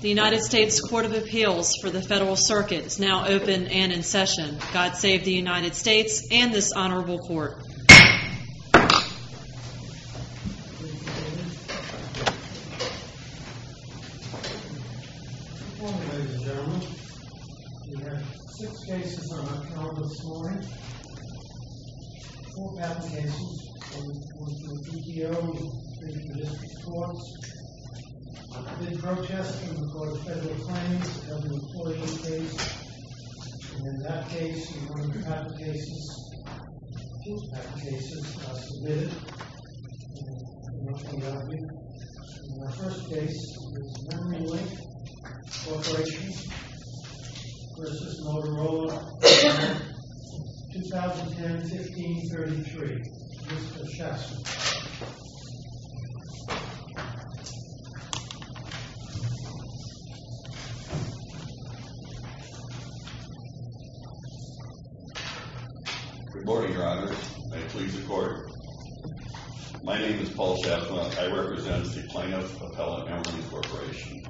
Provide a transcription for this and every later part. THE UNITED STATES COURT OF APPEALS FOR THE FEDERAL CIRCUIT IS NOW OPEN AND IN SESSION. GOD SAVE THE UNITED STATES AND THIS HONORABLE COURT. Good morning, ladies and gentlemen. We have six cases on our calendar this morning. Four patent cases, one for the PTO, one for the District Courts. I've been protesting for the federal claims of an employee case. And in that case, in one of your patent cases, two patent cases are submitted. And I'll read them out to you. The first case is MEMORYLINK CORP v. MOTOROLA, 2010-15-33. Mr. Schaffman. Good morning, Your Honor. May it please the Court. My name is Paul Schaffman. I represent the plaintiff, Appella Emery Corporation.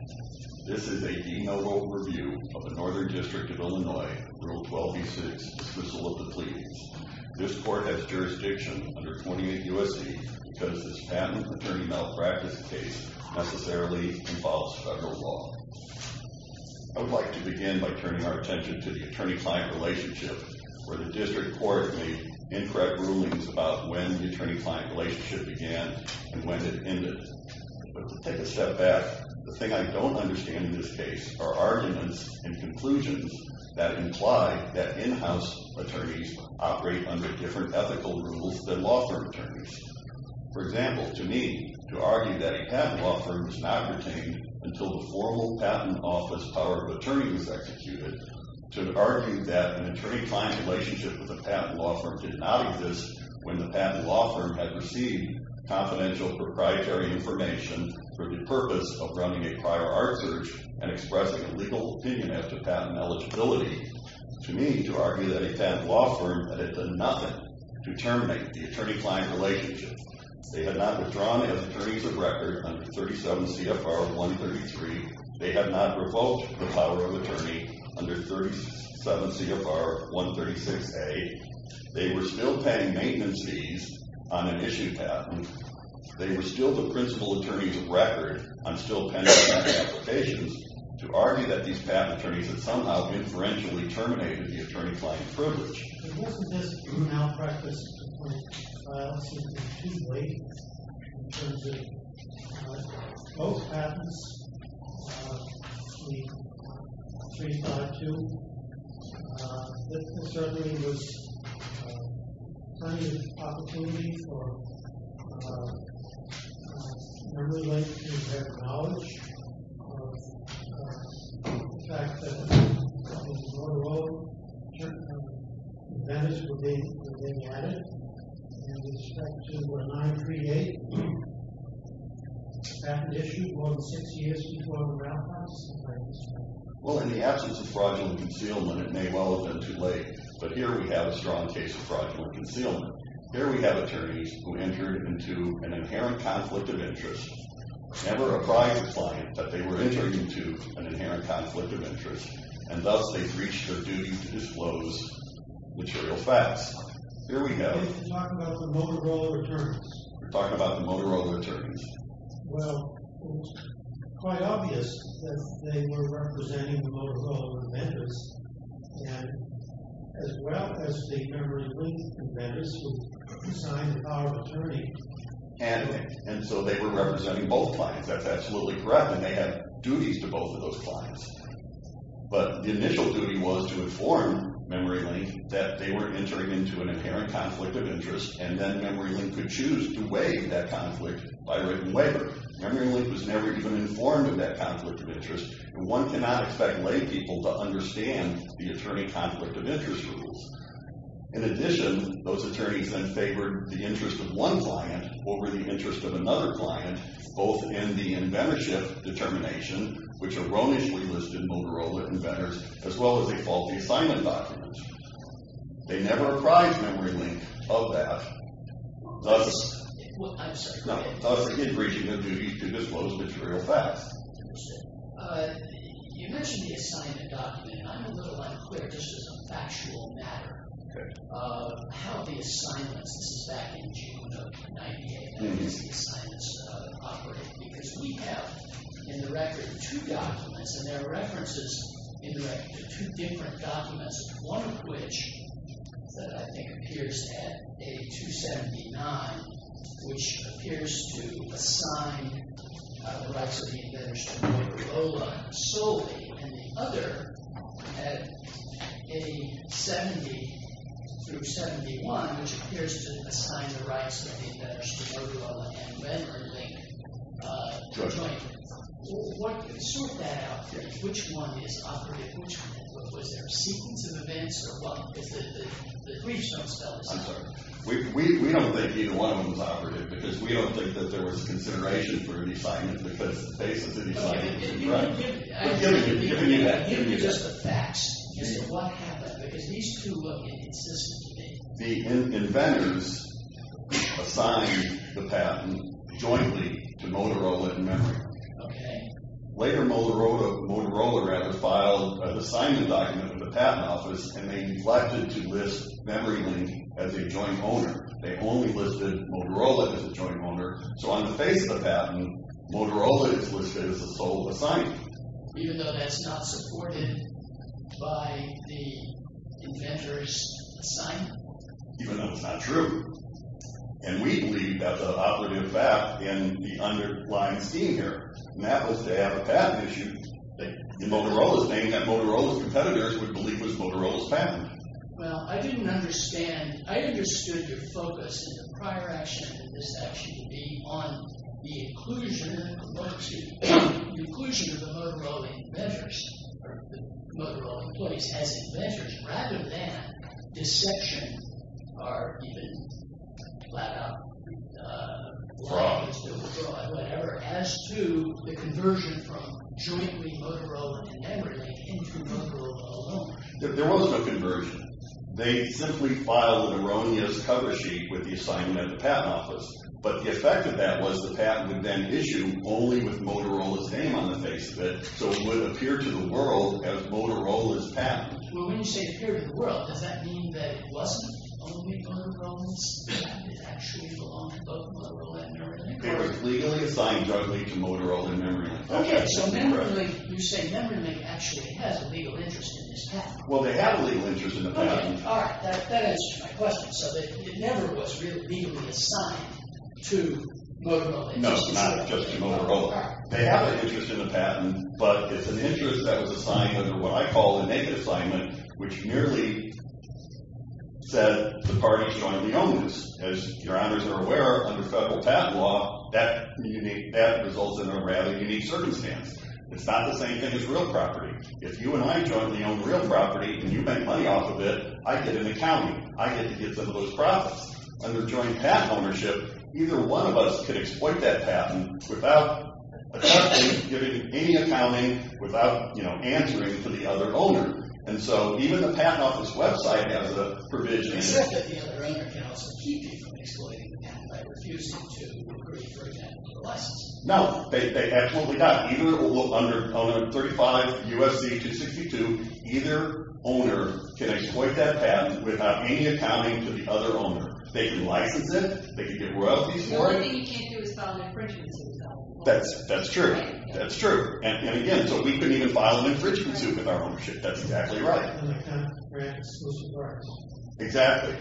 This is a denotable review of the Northern District of Illinois, Rule 12b-6, Dissolution of the Pleas. This Court has jurisdiction under 28 U.S.C. because this patent attorney malpractice case necessarily involves federal law. I would like to begin by turning our attention to the attorney-client relationship, where the District Courts made incorrect rulings about when the attorney-client relationship began and when it ended. But to take a step back, the thing I don't understand in this case are arguments and conclusions that imply that in-house attorneys operate under different ethical rules than law firm attorneys. For example, to me, to argue that a patent law firm is not retained until the formal patent office power of attorney is executed, to argue that an attorney-client relationship with a patent law firm did not exist when the patent law firm had received confidential proprietary information for the purpose of running a prior art search and expressing a legal opinion after patent eligibility, to me, to argue that a patent law firm had done nothing to terminate the attorney-client relationship, they had not withdrawn as attorneys of record under 37 CFR 133, they had not revoked the power of attorney under 37 CFR 136a, they were still paying maintenance fees on an issue patent, they were still the principal attorneys of record on still pending patent applications, to argue that these patent attorneys had somehow inferentially terminated the attorney-client privilege. Most of this now practice seems to be too late in terms of both patents, I believe 352, this certainly was plenty of opportunity for everyone to share their knowledge of the fact that this is a motor law firm, the matters were being added, and in respect to 938, patent issue more than six years before the roundhouse, well in the absence of fraudulent concealment it may well have been too late, but here we have a strong case of fraudulent concealment, here we have attorneys who entered into an inherent conflict of interest, never a private client, but they were entering into an inherent conflict of interest, and thus they breached their duty to disclose material facts, here we have, we're talking about the motor law attorneys, well quite obvious that they were representing the motor law amendments, and as well as the memory link amendments who signed the power of attorney, and so they were representing both clients, that's absolutely correct, and they had duties to both of those clients, but the initial duty was to inform memory link that they were entering into an inherent conflict of interest, and then memory link could choose to waive that conflict by written waiver, memory link was never even informed of that conflict of interest, and one cannot expect lay people to understand the attorney conflict of interest rules, in addition those attorneys then favored the interest of one client over the interest of another client, both in the inventorship determination, which erroneously listed Motorola inventors, as well as a faulty assignment document, they never apprised memory link of that, thus, I'm sorry, no, thus they did breach their duty to disclose material facts, you mentioned the assignment document, and I'm a little unclear, this is a factual matter, of how the assignments, this is back in June of 98, how does the assignments operate, because we have in the record two documents, and there are references in the record to two different documents, one of which I think appears at A279, which appears to assign the rights of the inventors to Motorola solely, and the other at A70 through 71, which appears to assign the rights of the inventors to Motorola and memory link jointly, what, sort that out for me, which one is operating, which one, was there a sequence of events, or what, the briefs don't spell it out, I'm sorry, we don't think either one of them is operative, because we don't think that there was a consideration for an assignment, because the basis of the assignment is in front, I'm giving you just the facts, as to what happened, because these two look inconsistent to me, the inventors assigned the patent jointly to Motorola and memory, okay, later Motorola rather filed an assignment document with the patent office, and they neglected to list memory link as a joint owner, they only listed Motorola as a joint owner, so on the face of the patent, Motorola is listed as a sole assignment, even though that's not supported by the inventors assignment, even though it's not true, and we believe that's an operative fact in the underlying scheme here, and that was to have a patent issued in Motorola's name, and we believe that Motorola's competitors would believe it was Motorola's patent, well, I didn't understand, I understood your focus in the prior action, and this action would be on the inclusion, excuse me, the inclusion of the Motorola inventors, or the Motorola employees, as inventors, rather than deception, or even blackout, fraud, whatever, as to the conversion from jointly Motorola and memory link into Motorola alone, there wasn't a conversion, they simply filed an erroneous cover sheet with the assignment of the patent office, but the effect of that was the patent would then issue only with Motorola's name on the face of it, so it would appear to the world as Motorola's patent, well, when you say appear to the world, does that mean that it wasn't only Motorola's patent, it actually belonged to both Motorola and memory link, it was legally assigned jointly to Motorola and memory link, okay, so memory link, you say memory link actually has a legal interest in this patent, well, they have a legal interest in the patent, all right, that answers my question, so it never was really legally assigned to Motorola, no, it's not just to Motorola, they have an interest in the patent, but it's an interest that was assigned under what I call the negative assignment, which merely said the parties jointly owned this, as your honors are aware, under federal patent law, that results in a rather unique circumstance, it's not the same thing as real property, if you and I jointly own real property, and you make money off of it, I get an accounting, I get to get some of those profits, under joint patent ownership, either one of us could exploit that patent without giving any accounting, without answering to the other owner, and so even the patent office website has a provision, except that the other owner can also keep you from exploiting the patent, by refusing to agree for a patent or a license, no, they absolutely not, under 35 U.S.C. 262, either owner can exploit that patent without any accounting to the other owner, they can license it, they can get royalties for it, the only thing you can't do is file an infringement suit, that's true, that's true, and again, so we couldn't even file an infringement suit with our ownership, that's exactly right, exactly,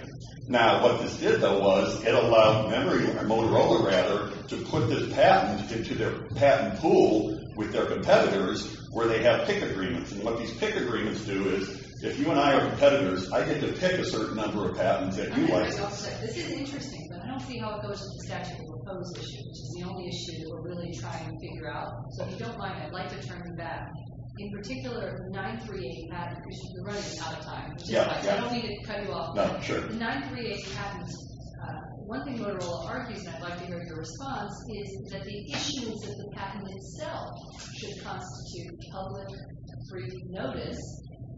now what this did though was, it allowed memory, or Motorola rather, to put this patent into their patent pool, with their competitors, where they have pick agreements, and what these pick agreements do is, if you and I are competitors, I get to pick a certain number of patents, that you license, this is interesting, but I don't see how it goes with the statute of limitations, which is the only issue that we're really trying to figure out, so if you don't mind, I'd like to turn back, in particular, the 938 patent, which is running out of time, I don't mean to cut you off, but the 938 patent, one thing Motorola argues, and I'd like to hear your response, is that the issuance of the patent itself, should constitute public, free notice,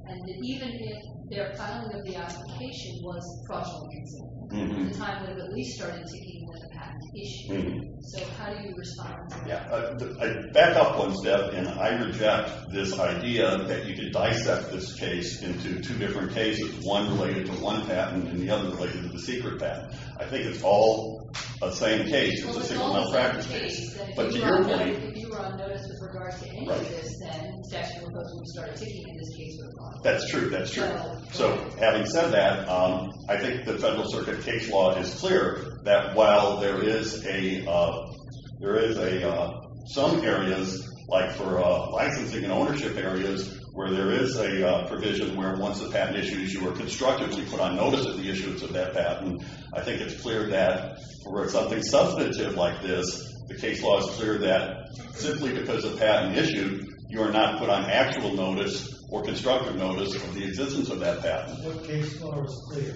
and that even if their filing of the application, was fraudulent, at the time they were at least starting to deal with the patent issue, so how do you respond to that? I'd back up one step, and I reject this idea, that you could dissect this case, into two different cases, one related to one patent, and the other related to the secret patent, I think it's all the same case, it's a single malpractice case, but to your point, if you were on notice with regards to any of this, then the statute of limitations would start ticking, and this case would have gone on. That's true, so having said that, I think the Federal Circuit case law is clear, that while there is a, there is a, some areas, like for licensing and ownership areas, where there is a provision, where once a patent issue is constructed, you put on notice of the issuance of that patent, I think it's clear that, for something substantive like this, the case law is clear that, simply because a patent issue, you are not put on actual notice, or constructive notice, of the existence of that patent. What case law is clear?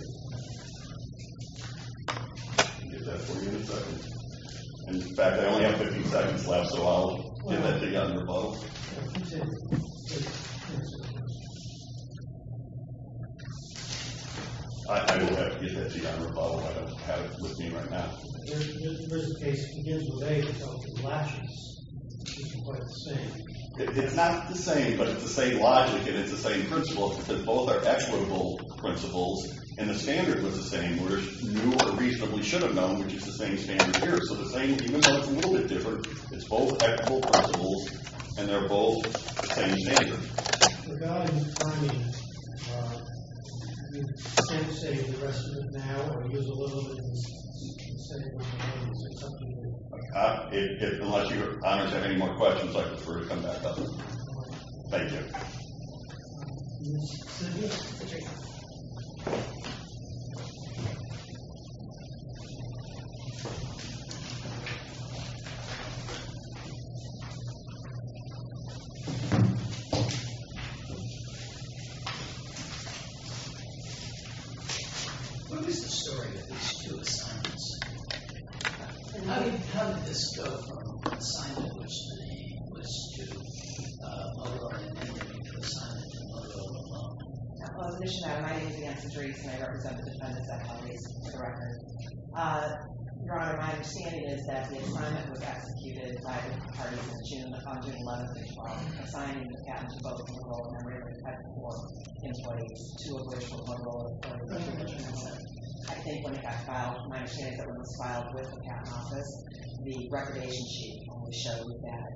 I can give that to you in a second. In fact, I only have 15 seconds left, so I'll give that to you under a bubble. I will have to give that to you under a bubble, I don't have it with me right now. Here's the case, it begins with A, which I'll give latches, which is quite the same. It's not the same, but it's the same logic, and it's the same principle, that both are equitable principles, and the standard was the same, whereas new or reasonably should have known, which is the same standard here, so the same, even though it's a little bit different, it's both equitable principles, and they're both the same standard. If, unless you have any more questions, I prefer to come back up. Thank you. Thank you. Who is the story of these two assignments? How did this go from assignment, which the name was to Mogo, and then you made the assignment to Mogo alone? My name is Nancy Drees, and I represent the defendants of the case to the record. Your Honor, my understanding is that the assignment was executed by the parties of June the 5th, June 11th, and 12th, assigning the captain to both of Mogo and Rayford, who had four employees, two of which were Mogo employees. I think when it got filed, my understanding is that when it was filed with the captain's office, the recognition sheet only showed that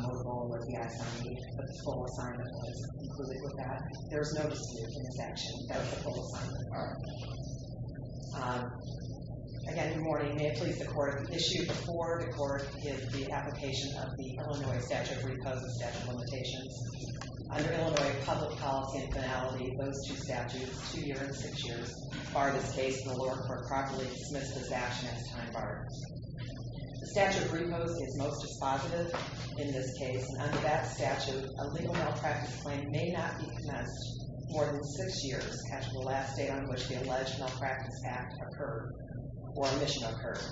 Mogo would be assigned, but the full assignment was included with that. There was no dispute in this action. That was the full assignment part. Again, good morning. May it please the Court, issued before the Court is the application of the Illinois statute of repose of statute of limitations. Under Illinois public policy and finality, those two statutes, two year and six years, bar this case in the lower court properly, dismiss this action as time barred. The statute of repose is most dispositive in this case, and under that statute, a legal malpractice claim may not be commenced more than six years, catching the last day on which the alleged malpractice act occurred or admission occurred.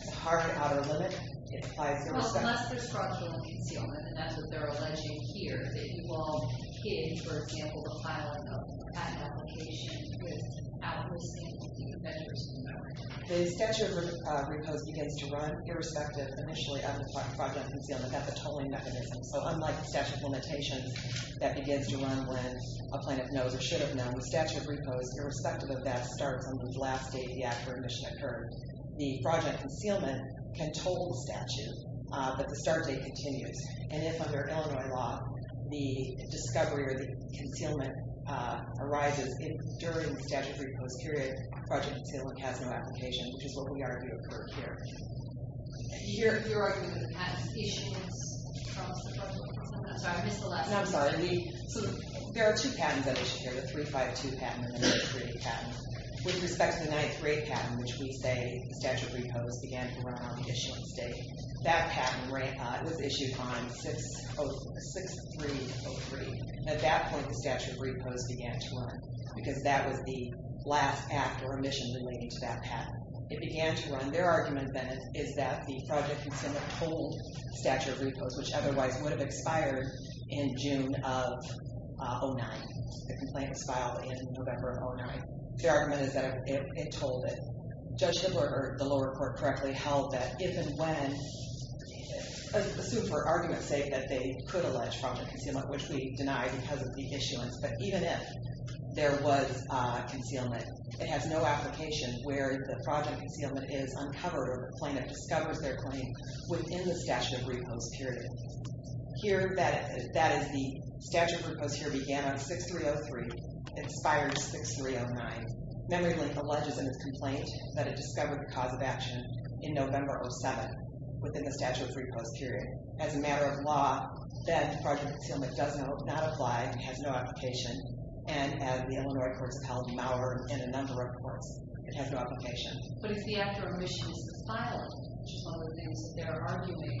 It's hard and out of the limit. It applies to irrespective... Unless there's structural concealment, and that's what they're alleging here, that you all hid, for example, the filing of the patent application with out-of-receipt manufacturers in America. The statute of repose begins to run irrespective, initially, of the fraudulent concealment. That's a tolling mechanism, so unlike the statute of limitations, that begins to run when a plaintiff knows or should have known, the statute of repose, irrespective of that, starts on the last day the act or admission occurred. The fraudulent concealment can toll the statute, but the start date continues. And if, under Illinois law, the discovery or the concealment arises during the statute of repose period, fraudulent concealment has no application, which is what we argue occurred here. Your argument of the patent's issuance... I'm sorry, I missed the last part. I'm sorry. There are two patents that issue here, the 352 patent and the 938 patent. With respect to the 938 patent, which we say the statute of repose began to run on the issuance date, that patent was issued on 6-3-0-3. At that point, the statute of repose began to run because that was the last act or admission relating to that patent. It began to run. Their argument, then, is that the fraudulent concealment tolled the statute of repose, which otherwise would have expired in June of 2009. The complaint was filed in November of 2009. Their argument is that it tolled it. Judge Schindler, or the lower court, correctly held that if and when... Assume for argument's sake that they could allege fraudulent concealment, which we deny because of the issuance, but even if there was concealment, it has no application where the fraudulent concealment is uncovered or the plaintiff discovers their claim within the statute of repose period. Here, that is, the statute of repose here began on 6-3-0-3, expired 6-3-0-9. Memory Link alleges in its complaint that it discovered the cause of action in November of 2007 within the statute of repose period. As a matter of law, that fraudulent concealment does not apply. It has no application. And as the Illinois courts have held, in a number of courts, it has no application. But if the after omission is compiled, which is one of the things that they're arguing,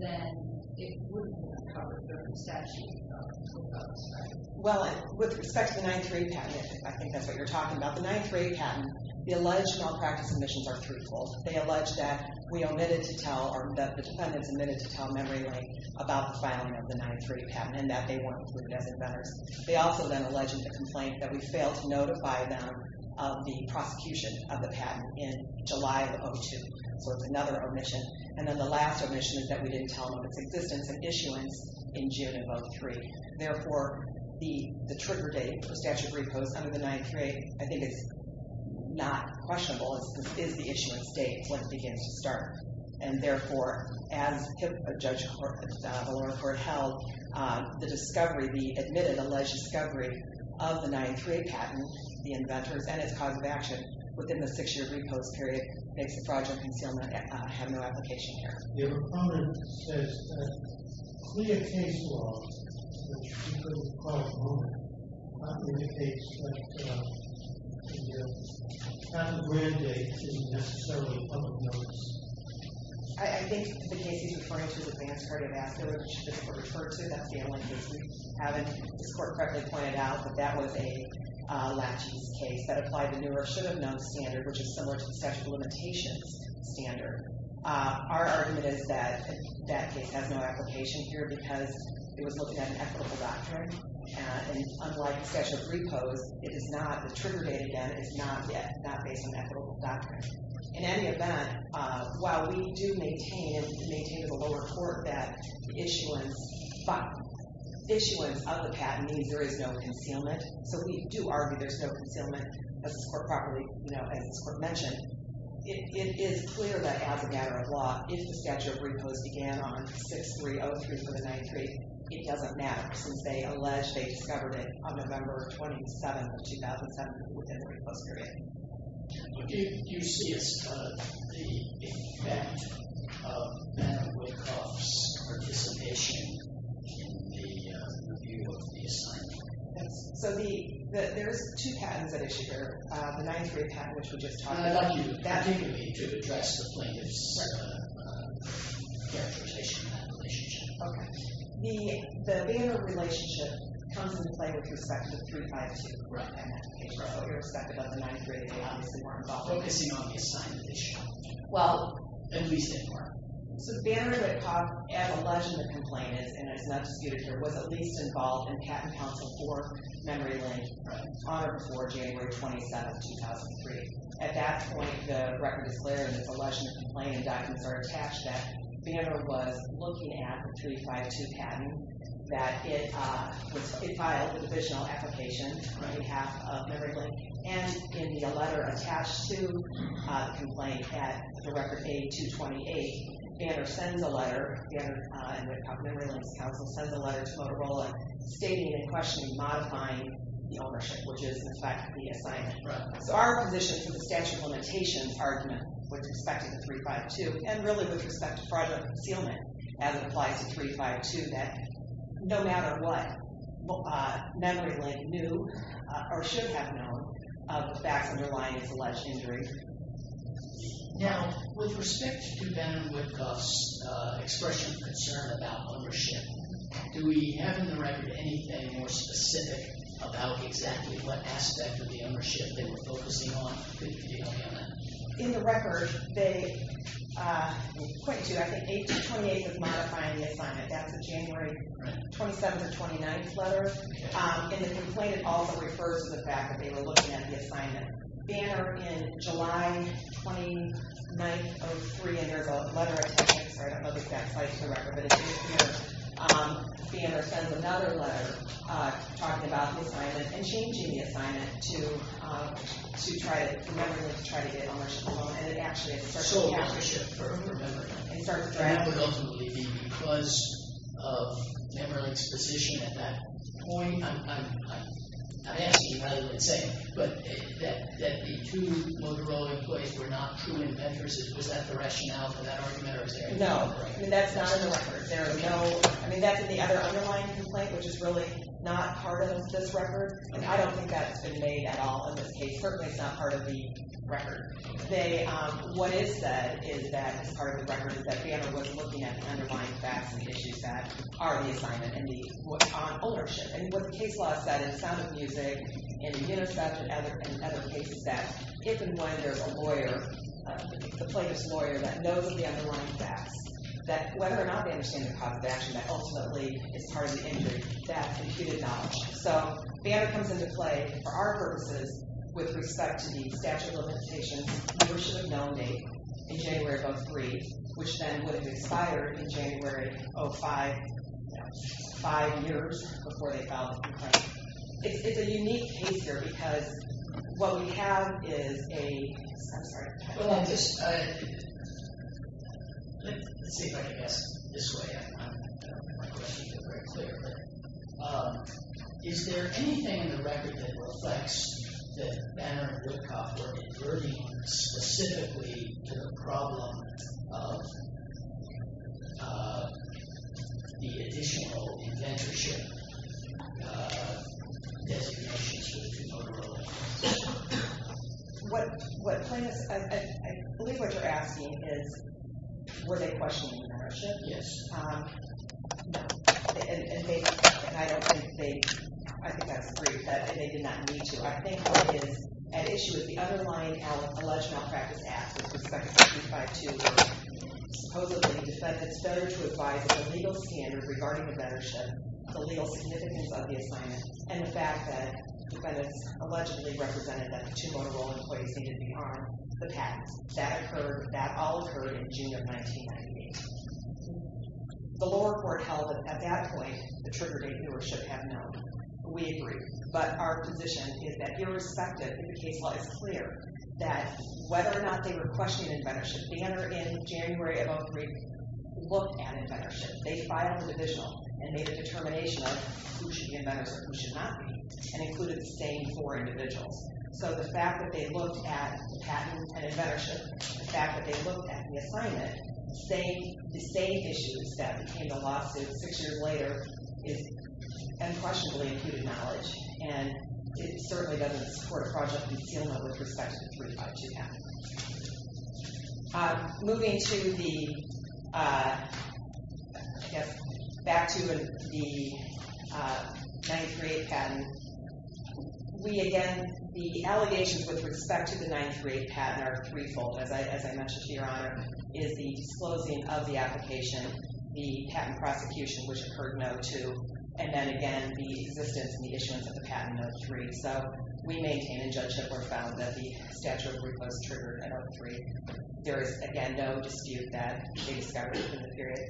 then it wouldn't be uncovered within the statute of repose, right? Well, with respect to the 9-3 patent, if I think that's what you're talking about, the 9-3 patent, the alleged malpractice omissions are threefold. They allege that we omitted to tell, or that the defendants omitted to tell Memory Link about the filing of the 9-3 patent and that they weren't included as inventors. They also then allege in the complaint that we failed to notify them of the prosecution of the patent in July of 2002. So it's another omission. And then the last omission is that we didn't tell them of its existence and issuance in June of 2003. Therefore, the trigger date for statute of repose under the 9-3, I think is not questionable. It is the issuance date when it begins to start. And therefore, as Judge O'Leary held, the discovery, the admitted alleged discovery of the 9-3 patent, the inventors, and its cause of action within the six-year repose period makes the fraudulent concealment have no application here. Your opponent says that clear case law, which we could have caught at the moment, not indicates that the patent granted date isn't necessarily public notice. I think the case he's referring to is Advanced Cardiovascular, which is referred to. I haven't correctly pointed out that that was a latche's case that applied the newer, should have known standard, which is similar to the statute of limitations standard. Our argument is that that case has no application here because it was looking at an equitable doctrine. And unlike statute of repose, it is not, the trigger date, again, is not based on equitable doctrine. In any event, while we do maintain, maintain to the lower court that issuance of the patent means there is no concealment, so we do argue there's no concealment, as this court properly, as this court mentioned. It is clear that as a matter of law, if the statute of repose began on 6-3-0-3-7-9-3, it doesn't matter since they allege they discovered it on November 27th of 2007 within the repose period. Do you see as the effect of Manna-Wolkoff's participation in the review of the assignment? Yes. So the, there's two patents at issue here, the ninth grade patent, which we just talked about. I'd like you to continue to address the plaintiff's interpretation of that relationship. Okay. The payment relationship comes into play with respect to 352. Right. And that's the case with respect to what you're expecting of the ninth grade, they obviously weren't involved. Focusing on the assignment issue. Well. At least they weren't. So Banner, as alleged in the complaint is, and it's not disputed here, was at least involved in patent counsel for Memory Lane on or before January 27th, 2003. At that point, the record is clear and it's alleged in the complaint and documents are attached that Banner was looking at the 352 patent, that it was, it filed a divisional application on behalf of Memory Lane and in the letter attached to the complaint that the record 8228, Banner sends a letter, Banner and Memory Lane's counsel sends a letter to Motorola stating and questioning, modifying the ownership, which is in fact the assignment. So our position for the statute of limitations argument with respect to the 352 and really with respect to fraudulent concealment as it applies to 352, that no matter what, Memory Lane knew, or should have known, of the facts underlying this alleged injury. Now, with respect to Banner and Woodcuff's expression of concern about ownership, do we have in the record anything more specific about exactly what aspect of the ownership they were focusing on that you can give me on that? In the record, they, point to, I think 8228 is modifying the assignment. That's a January 27th or 29th letter. In the complaint, it also refers to the fact that they were looking at the assignment. Banner, in July 29th of three, and there's a letter I think, sorry, I don't know the exact site for the record, but it's right here. Banner sends another letter talking about the assignment and changing the assignment to try to, for Memory Lane to try to get ownership alone. And it actually, it starts dragging. So ownership for Memory Lane. It starts dragging. That would ultimately be because of Memory Lane's position at that point. I'm asking you rather what it's saying, but that the two Motorola employees were not true inventors, was that the rationale for that argument, or was there any other reason? No. I mean, that's not in the record. I mean, that's in the other underlying complaint, which is really not part of this record, and I don't think that's been made at all in this case. Certainly, it's not part of the record. What is said is that part of the record is that Banner was looking at the underlying facts and the issues that are the assignment and the ownership. And what the case law said in Sound of Music, in UNICEF, and other cases, that if and when there's a lawyer, a plaintiff's lawyer, that knows of the underlying facts, that whether or not they understand the cause of action that ultimately is part of the injury, that's imputed knowledge. So Banner comes into play for our purposes with respect to the statute of limitations that we should have nominated in January of 2003, which then would have expired in January of 2005, five years before they filed the complaint. It's a unique case here because what we have is a... I'm sorry. Let's see if I can answer this way. I'm not going to speak very clearly. Is there anything in the record that reflects that Banner and Woodcock were inverting specifically to the problem of the additional inventorship designations for the two motor oil companies? What plaintiffs... I believe what you're asking is were they questioning the mentorship? Yes. No. And they... I don't think they... I think that's great that they did not need to. I think what is at issue is the underlying alleged malpractice acts with respect to 352 were supposedly defendants better to advise the legal standard regarding inventorship, the legal significance of the assignment, and the fact that defendants allegedly represented that the two motor oil employees needed to be armed. The patent. That occurred... That all occurred in June of 1998. The lower court held that at that point the trigger date newer should have known. We agree. But our position is that irrespective if the case law is clear that whether or not they were questioning inventorship, Banner in January of 03 looked at inventorship. They filed a division and made a determination of who should be inventors and who should not be and included the same four individuals. So the fact that they looked at patent and inventorship, the fact that they looked at the assignment, the same issues that became the lawsuit six years later is unquestionably imputed knowledge and it certainly doesn't support a project concealment with respect to the 352 patent. Moving to the back to the 938 patent, we again, the allegations with respect to the 938 patent are threefold. As I mentioned to Your Honor, is the disclosing of the application, the patent prosecution which occurred in 02, and then again the existence and the issuance of the patent in 03. So we maintain and judge that we're found that the statute of recourse triggered in 03. There is again no dispute that they discovered during the period.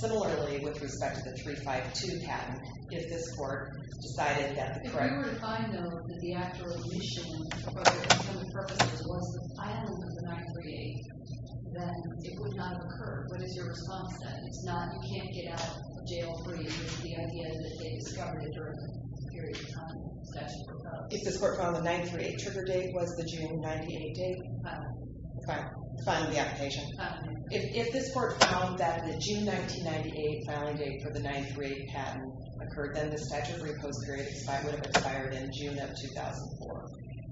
Similarly, with respect to the 352 patent, if this court decided that the correct... If we were to find though that the actual mission was the filing of the 938, then it would not have occurred. What is your response then? It's not you can't get out of jail free which is the idea that they discovered during the period on statute of recourse. If this court found the 938 trigger date was the June 98 date of filing the application, if this court found that the June 1998 filing date for the 938 patent occurred, then the statute of recourse period would have expired in June of 2004.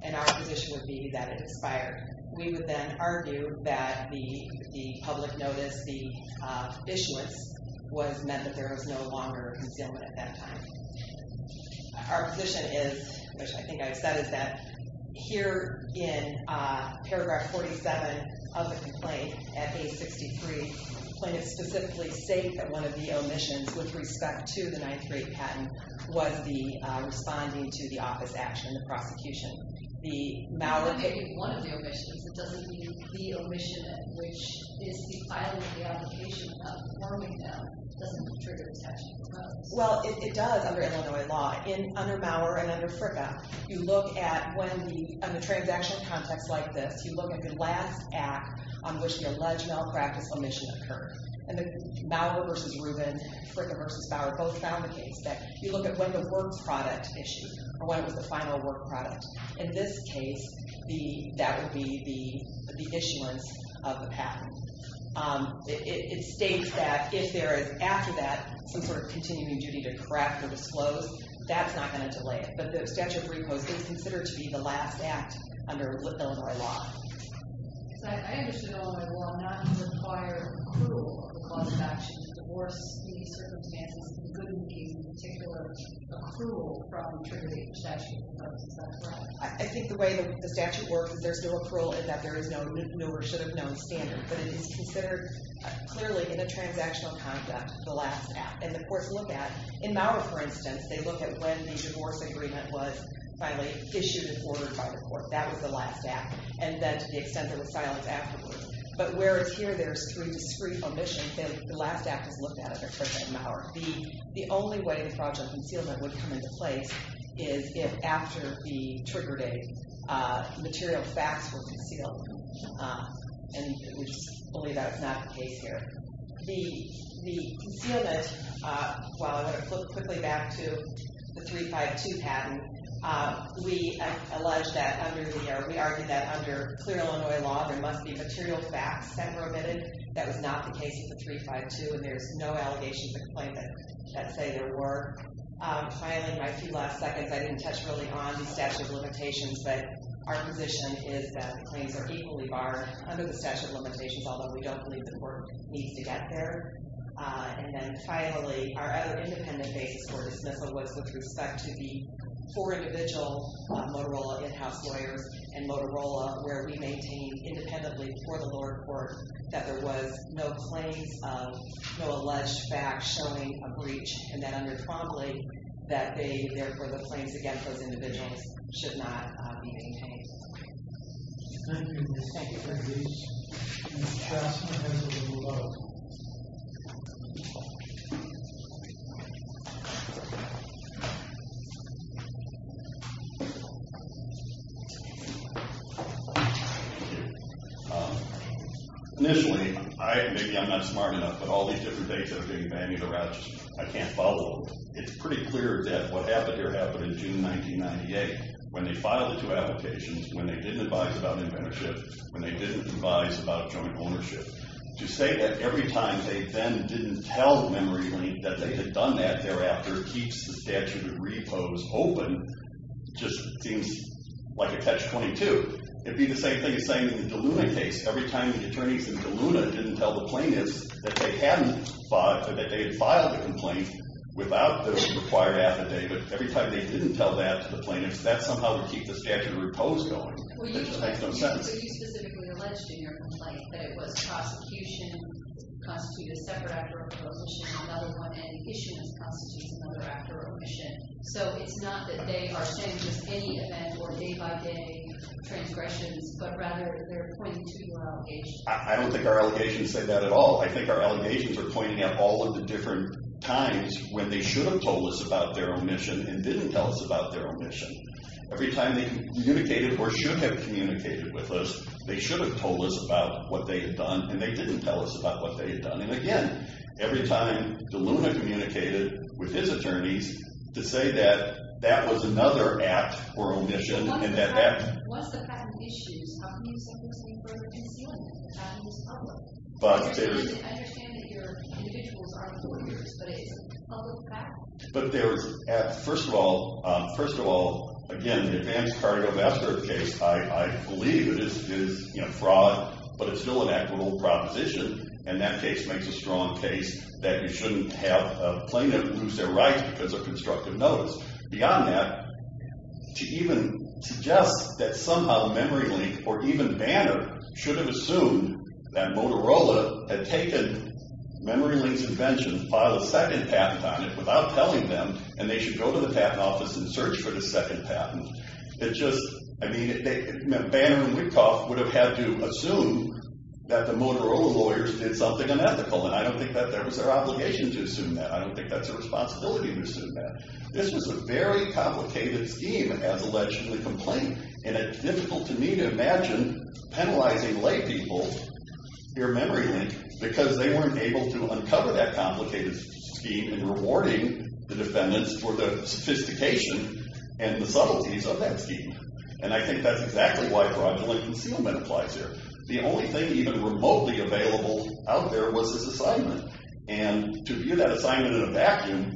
And our position would be that it expired. We would then argue that the public notice, was meant that there was no longer concealment at that time. Our position is, which I think I've said is that, here is the statute of recourse and here in paragraph 47 of the complaint at page 63, the plaintiff specifically stated that one of the omissions with respect to the 938 patent was the responding to the office action and the prosecution. The Mauer... When you say one of the omissions, it doesn't mean the omission which is the filing of the application of forming them doesn't trigger the statute of recourse. Well, it does under Illinois law. Under Mauer and under FRCA, you look at when the... On a transaction context like this, you look at the last act on which the alleged malpractice omission occurred. And the Mauer versus Rubin, Fricka versus Bauer both found the case that you look at when the work product issued, or when it was the final work product. In this case, that would be the issuance of the patent. It states that if there is after that some sort of continuing duty to correct or disclose, that's not going to delay it. But the statute of recourse is considered to be the last act under Illinois law. I understand Illinois law not to require accrual of the cause of action to divorce any circumstances that wouldn't be in particular accrual from triggering the statute of recourse. Is that correct? I think the way the statute works is there's no accrual in that there is no new or should have known standard. But it is considered clearly in a transactional context the last act. And the courts look at in Mauer, for instance, they look at when the divorce agreement was finally issued and ordered by the court. That was the last act. And then to the extent that it's silenced afterwards. But whereas here there's three discrete omissions, the last act is looked at as a trick by Mauer. The only way the fraudulent concealment would come into place is if after the trigger date material facts were concealed. And we just believe that it's not the case here. The concealment, while I'm going to flip through real quickly back to the 352 patent, we allege that under the, or we argue that under clear Illinois law there must be material facts that were omitted. That was not the case with the 352. And there's no allegations of complaint that say there were. Finally, my few last seconds, I didn't touch really on the statute of limitations, but our position is that the claims are equally barred under the statute of limitations, although we don't believe the court needs to get there. And then finally, our other independent basis for dismissal was with respect to the four individual Motorola in-house lawyers and Motorola where we maintain independently for the lower court that there was no claims of no alleged facts showing a breach. And then under Trombley that they, therefore the claims against those individuals should not be maintained. Thank you. Thank you. Thank you. Thank you. Thank you. Thank you. Thank you. Thank you. Thank you. Thank you. Thank you. Thank you. Thank you. Thank you. Thank you. Thank you. Thank you. Thank you. Initially, I am not smart enough. But all these different dates are getting banned due to Rochester. I can't follow them. It's pretty clear that what happened here happened in June 1998 when they filed the two applications. When they didn't advise about inventorship, when they didn't advise about joint ownership. To say that every time they then file a complaint, they then didn't tell MemoryLink that they had done that thereafter, keeps the statute of repose open, just seems like a catch-22. It'd be the same thing as saying in the Deluna case, every time the attorneys in Deluna didn't tell the plaintiffs that they had filed the complaint without the required affidavit, every time they didn't tell that to the plaintiffs, that somehow would keep the statute of repose going. It just makes no sense. But you specifically alleged in your complaint that it was prosecution constituted a separate actor of omission, another one and issuance constitutes another actor of omission. So it's not that they are saying just any event or day-by-day transgressions, but rather they're pointing to allegations. I don't think our allegations say that at all. I think our allegations are pointing at all of the different times when they should have told us about their omission and didn't tell us about their omission. Every time they communicated or should have communicated with us, they should have told us about what they had done and they didn't tell us about what they had done. And again, every time Deluna communicated with his attorneys to say that that was another act or omission and that that was a fact of issues, how can you simply say further concealment and that it was public? I understand that your individuals are lawyers, but it's a public fact. But there's, first of all, again, the advanced cargo bastard case, I believe it is fraud, but it's still an equitable proposition. And that case makes a strong case that you shouldn't have a plaintiff lose their rights because of constructive notice. Beyond that, to even suggest that somehow MemoryLink or even Banner should have assumed that Motorola had taken MemoryLink's invention, filed a second patent on it without telling them and they should go to the patent office and say, well, Motorola lawyers did something unethical and I don't think that was their obligation to assume that. I don't think that's a responsibility to assume that. This was a very complicated scheme as a legislative complaint and it's difficult to me to imagine penalizing lay people here at MemoryLink because they weren't able to uncover that complicated scheme and rewarding the defendants for the sophistication and the subtleties of that scheme. And I think that's exactly why fraudulent concealment applies here. The only thing even remotely available out there was this assignment. And to view that assignment in a vacuum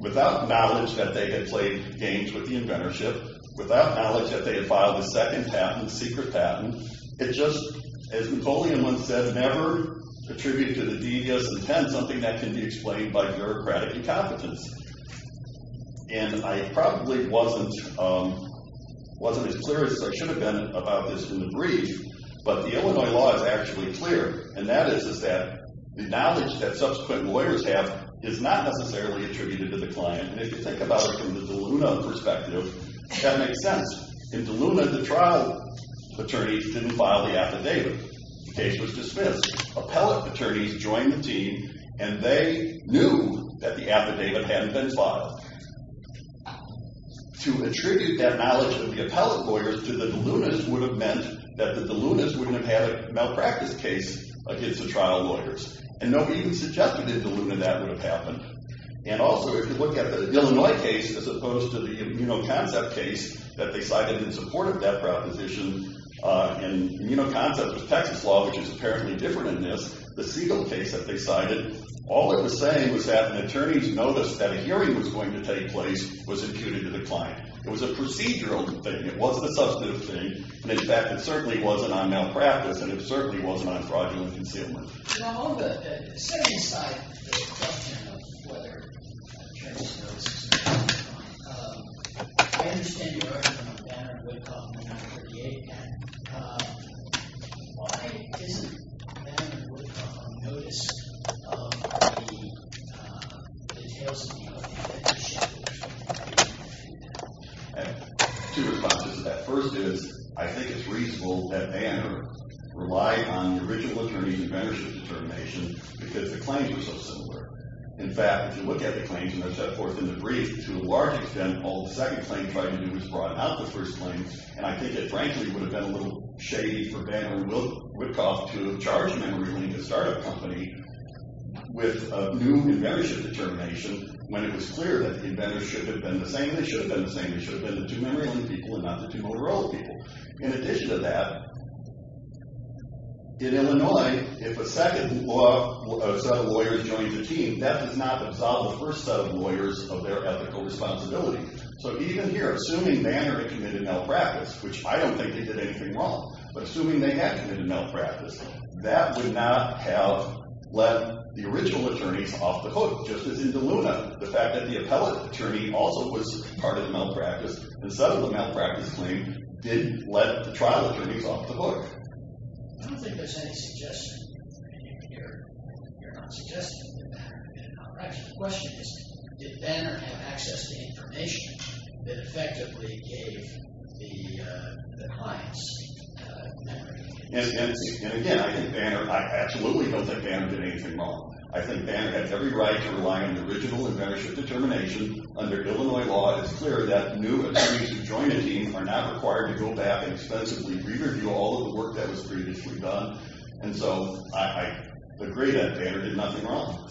without knowledge that they had played games with the inventorship, without knowledge that they had played games scheme. And the only way that I could explain that is that the Illinois law is actually clear and that is that the knowledge that subsequent lawyers have is not necessarily attributed to the DeLuna, the trial attorneys didn't file the affidavit. The case was dismissed. Appellate attorneys joined the team and they knew that the affidavit hadn't been filed. To attribute that knowledge of the appellate lawyers to the DeLunas would have meant that the DeLunas wouldn't have had a role in the trial. And DeLunas role in the trial. The DeLunas wouldn't have had a role in the trial. So I think that the DeLunas wouldn't have had a that DeLunas role in the trial. I think that the DeLunas wouldn't have had a role in the trial. I think that the wouldn't have role in the trial. I think that DeLunas wouldn't have had a role in the trial. I think that DeLunas wouldn't have had a role in the trial. role in the trial. I think these format the highest merit. And again, I think Banner, I absolutely don't think Banner did anything wrong. I think Banner had every right to rely on original and better determination. Under Illinois law, it's clear that new attorneys who join a team are not required to go back and expensively interview all of the work that was previously done. And so, I agree that Banner did nothing wrong. Thank you.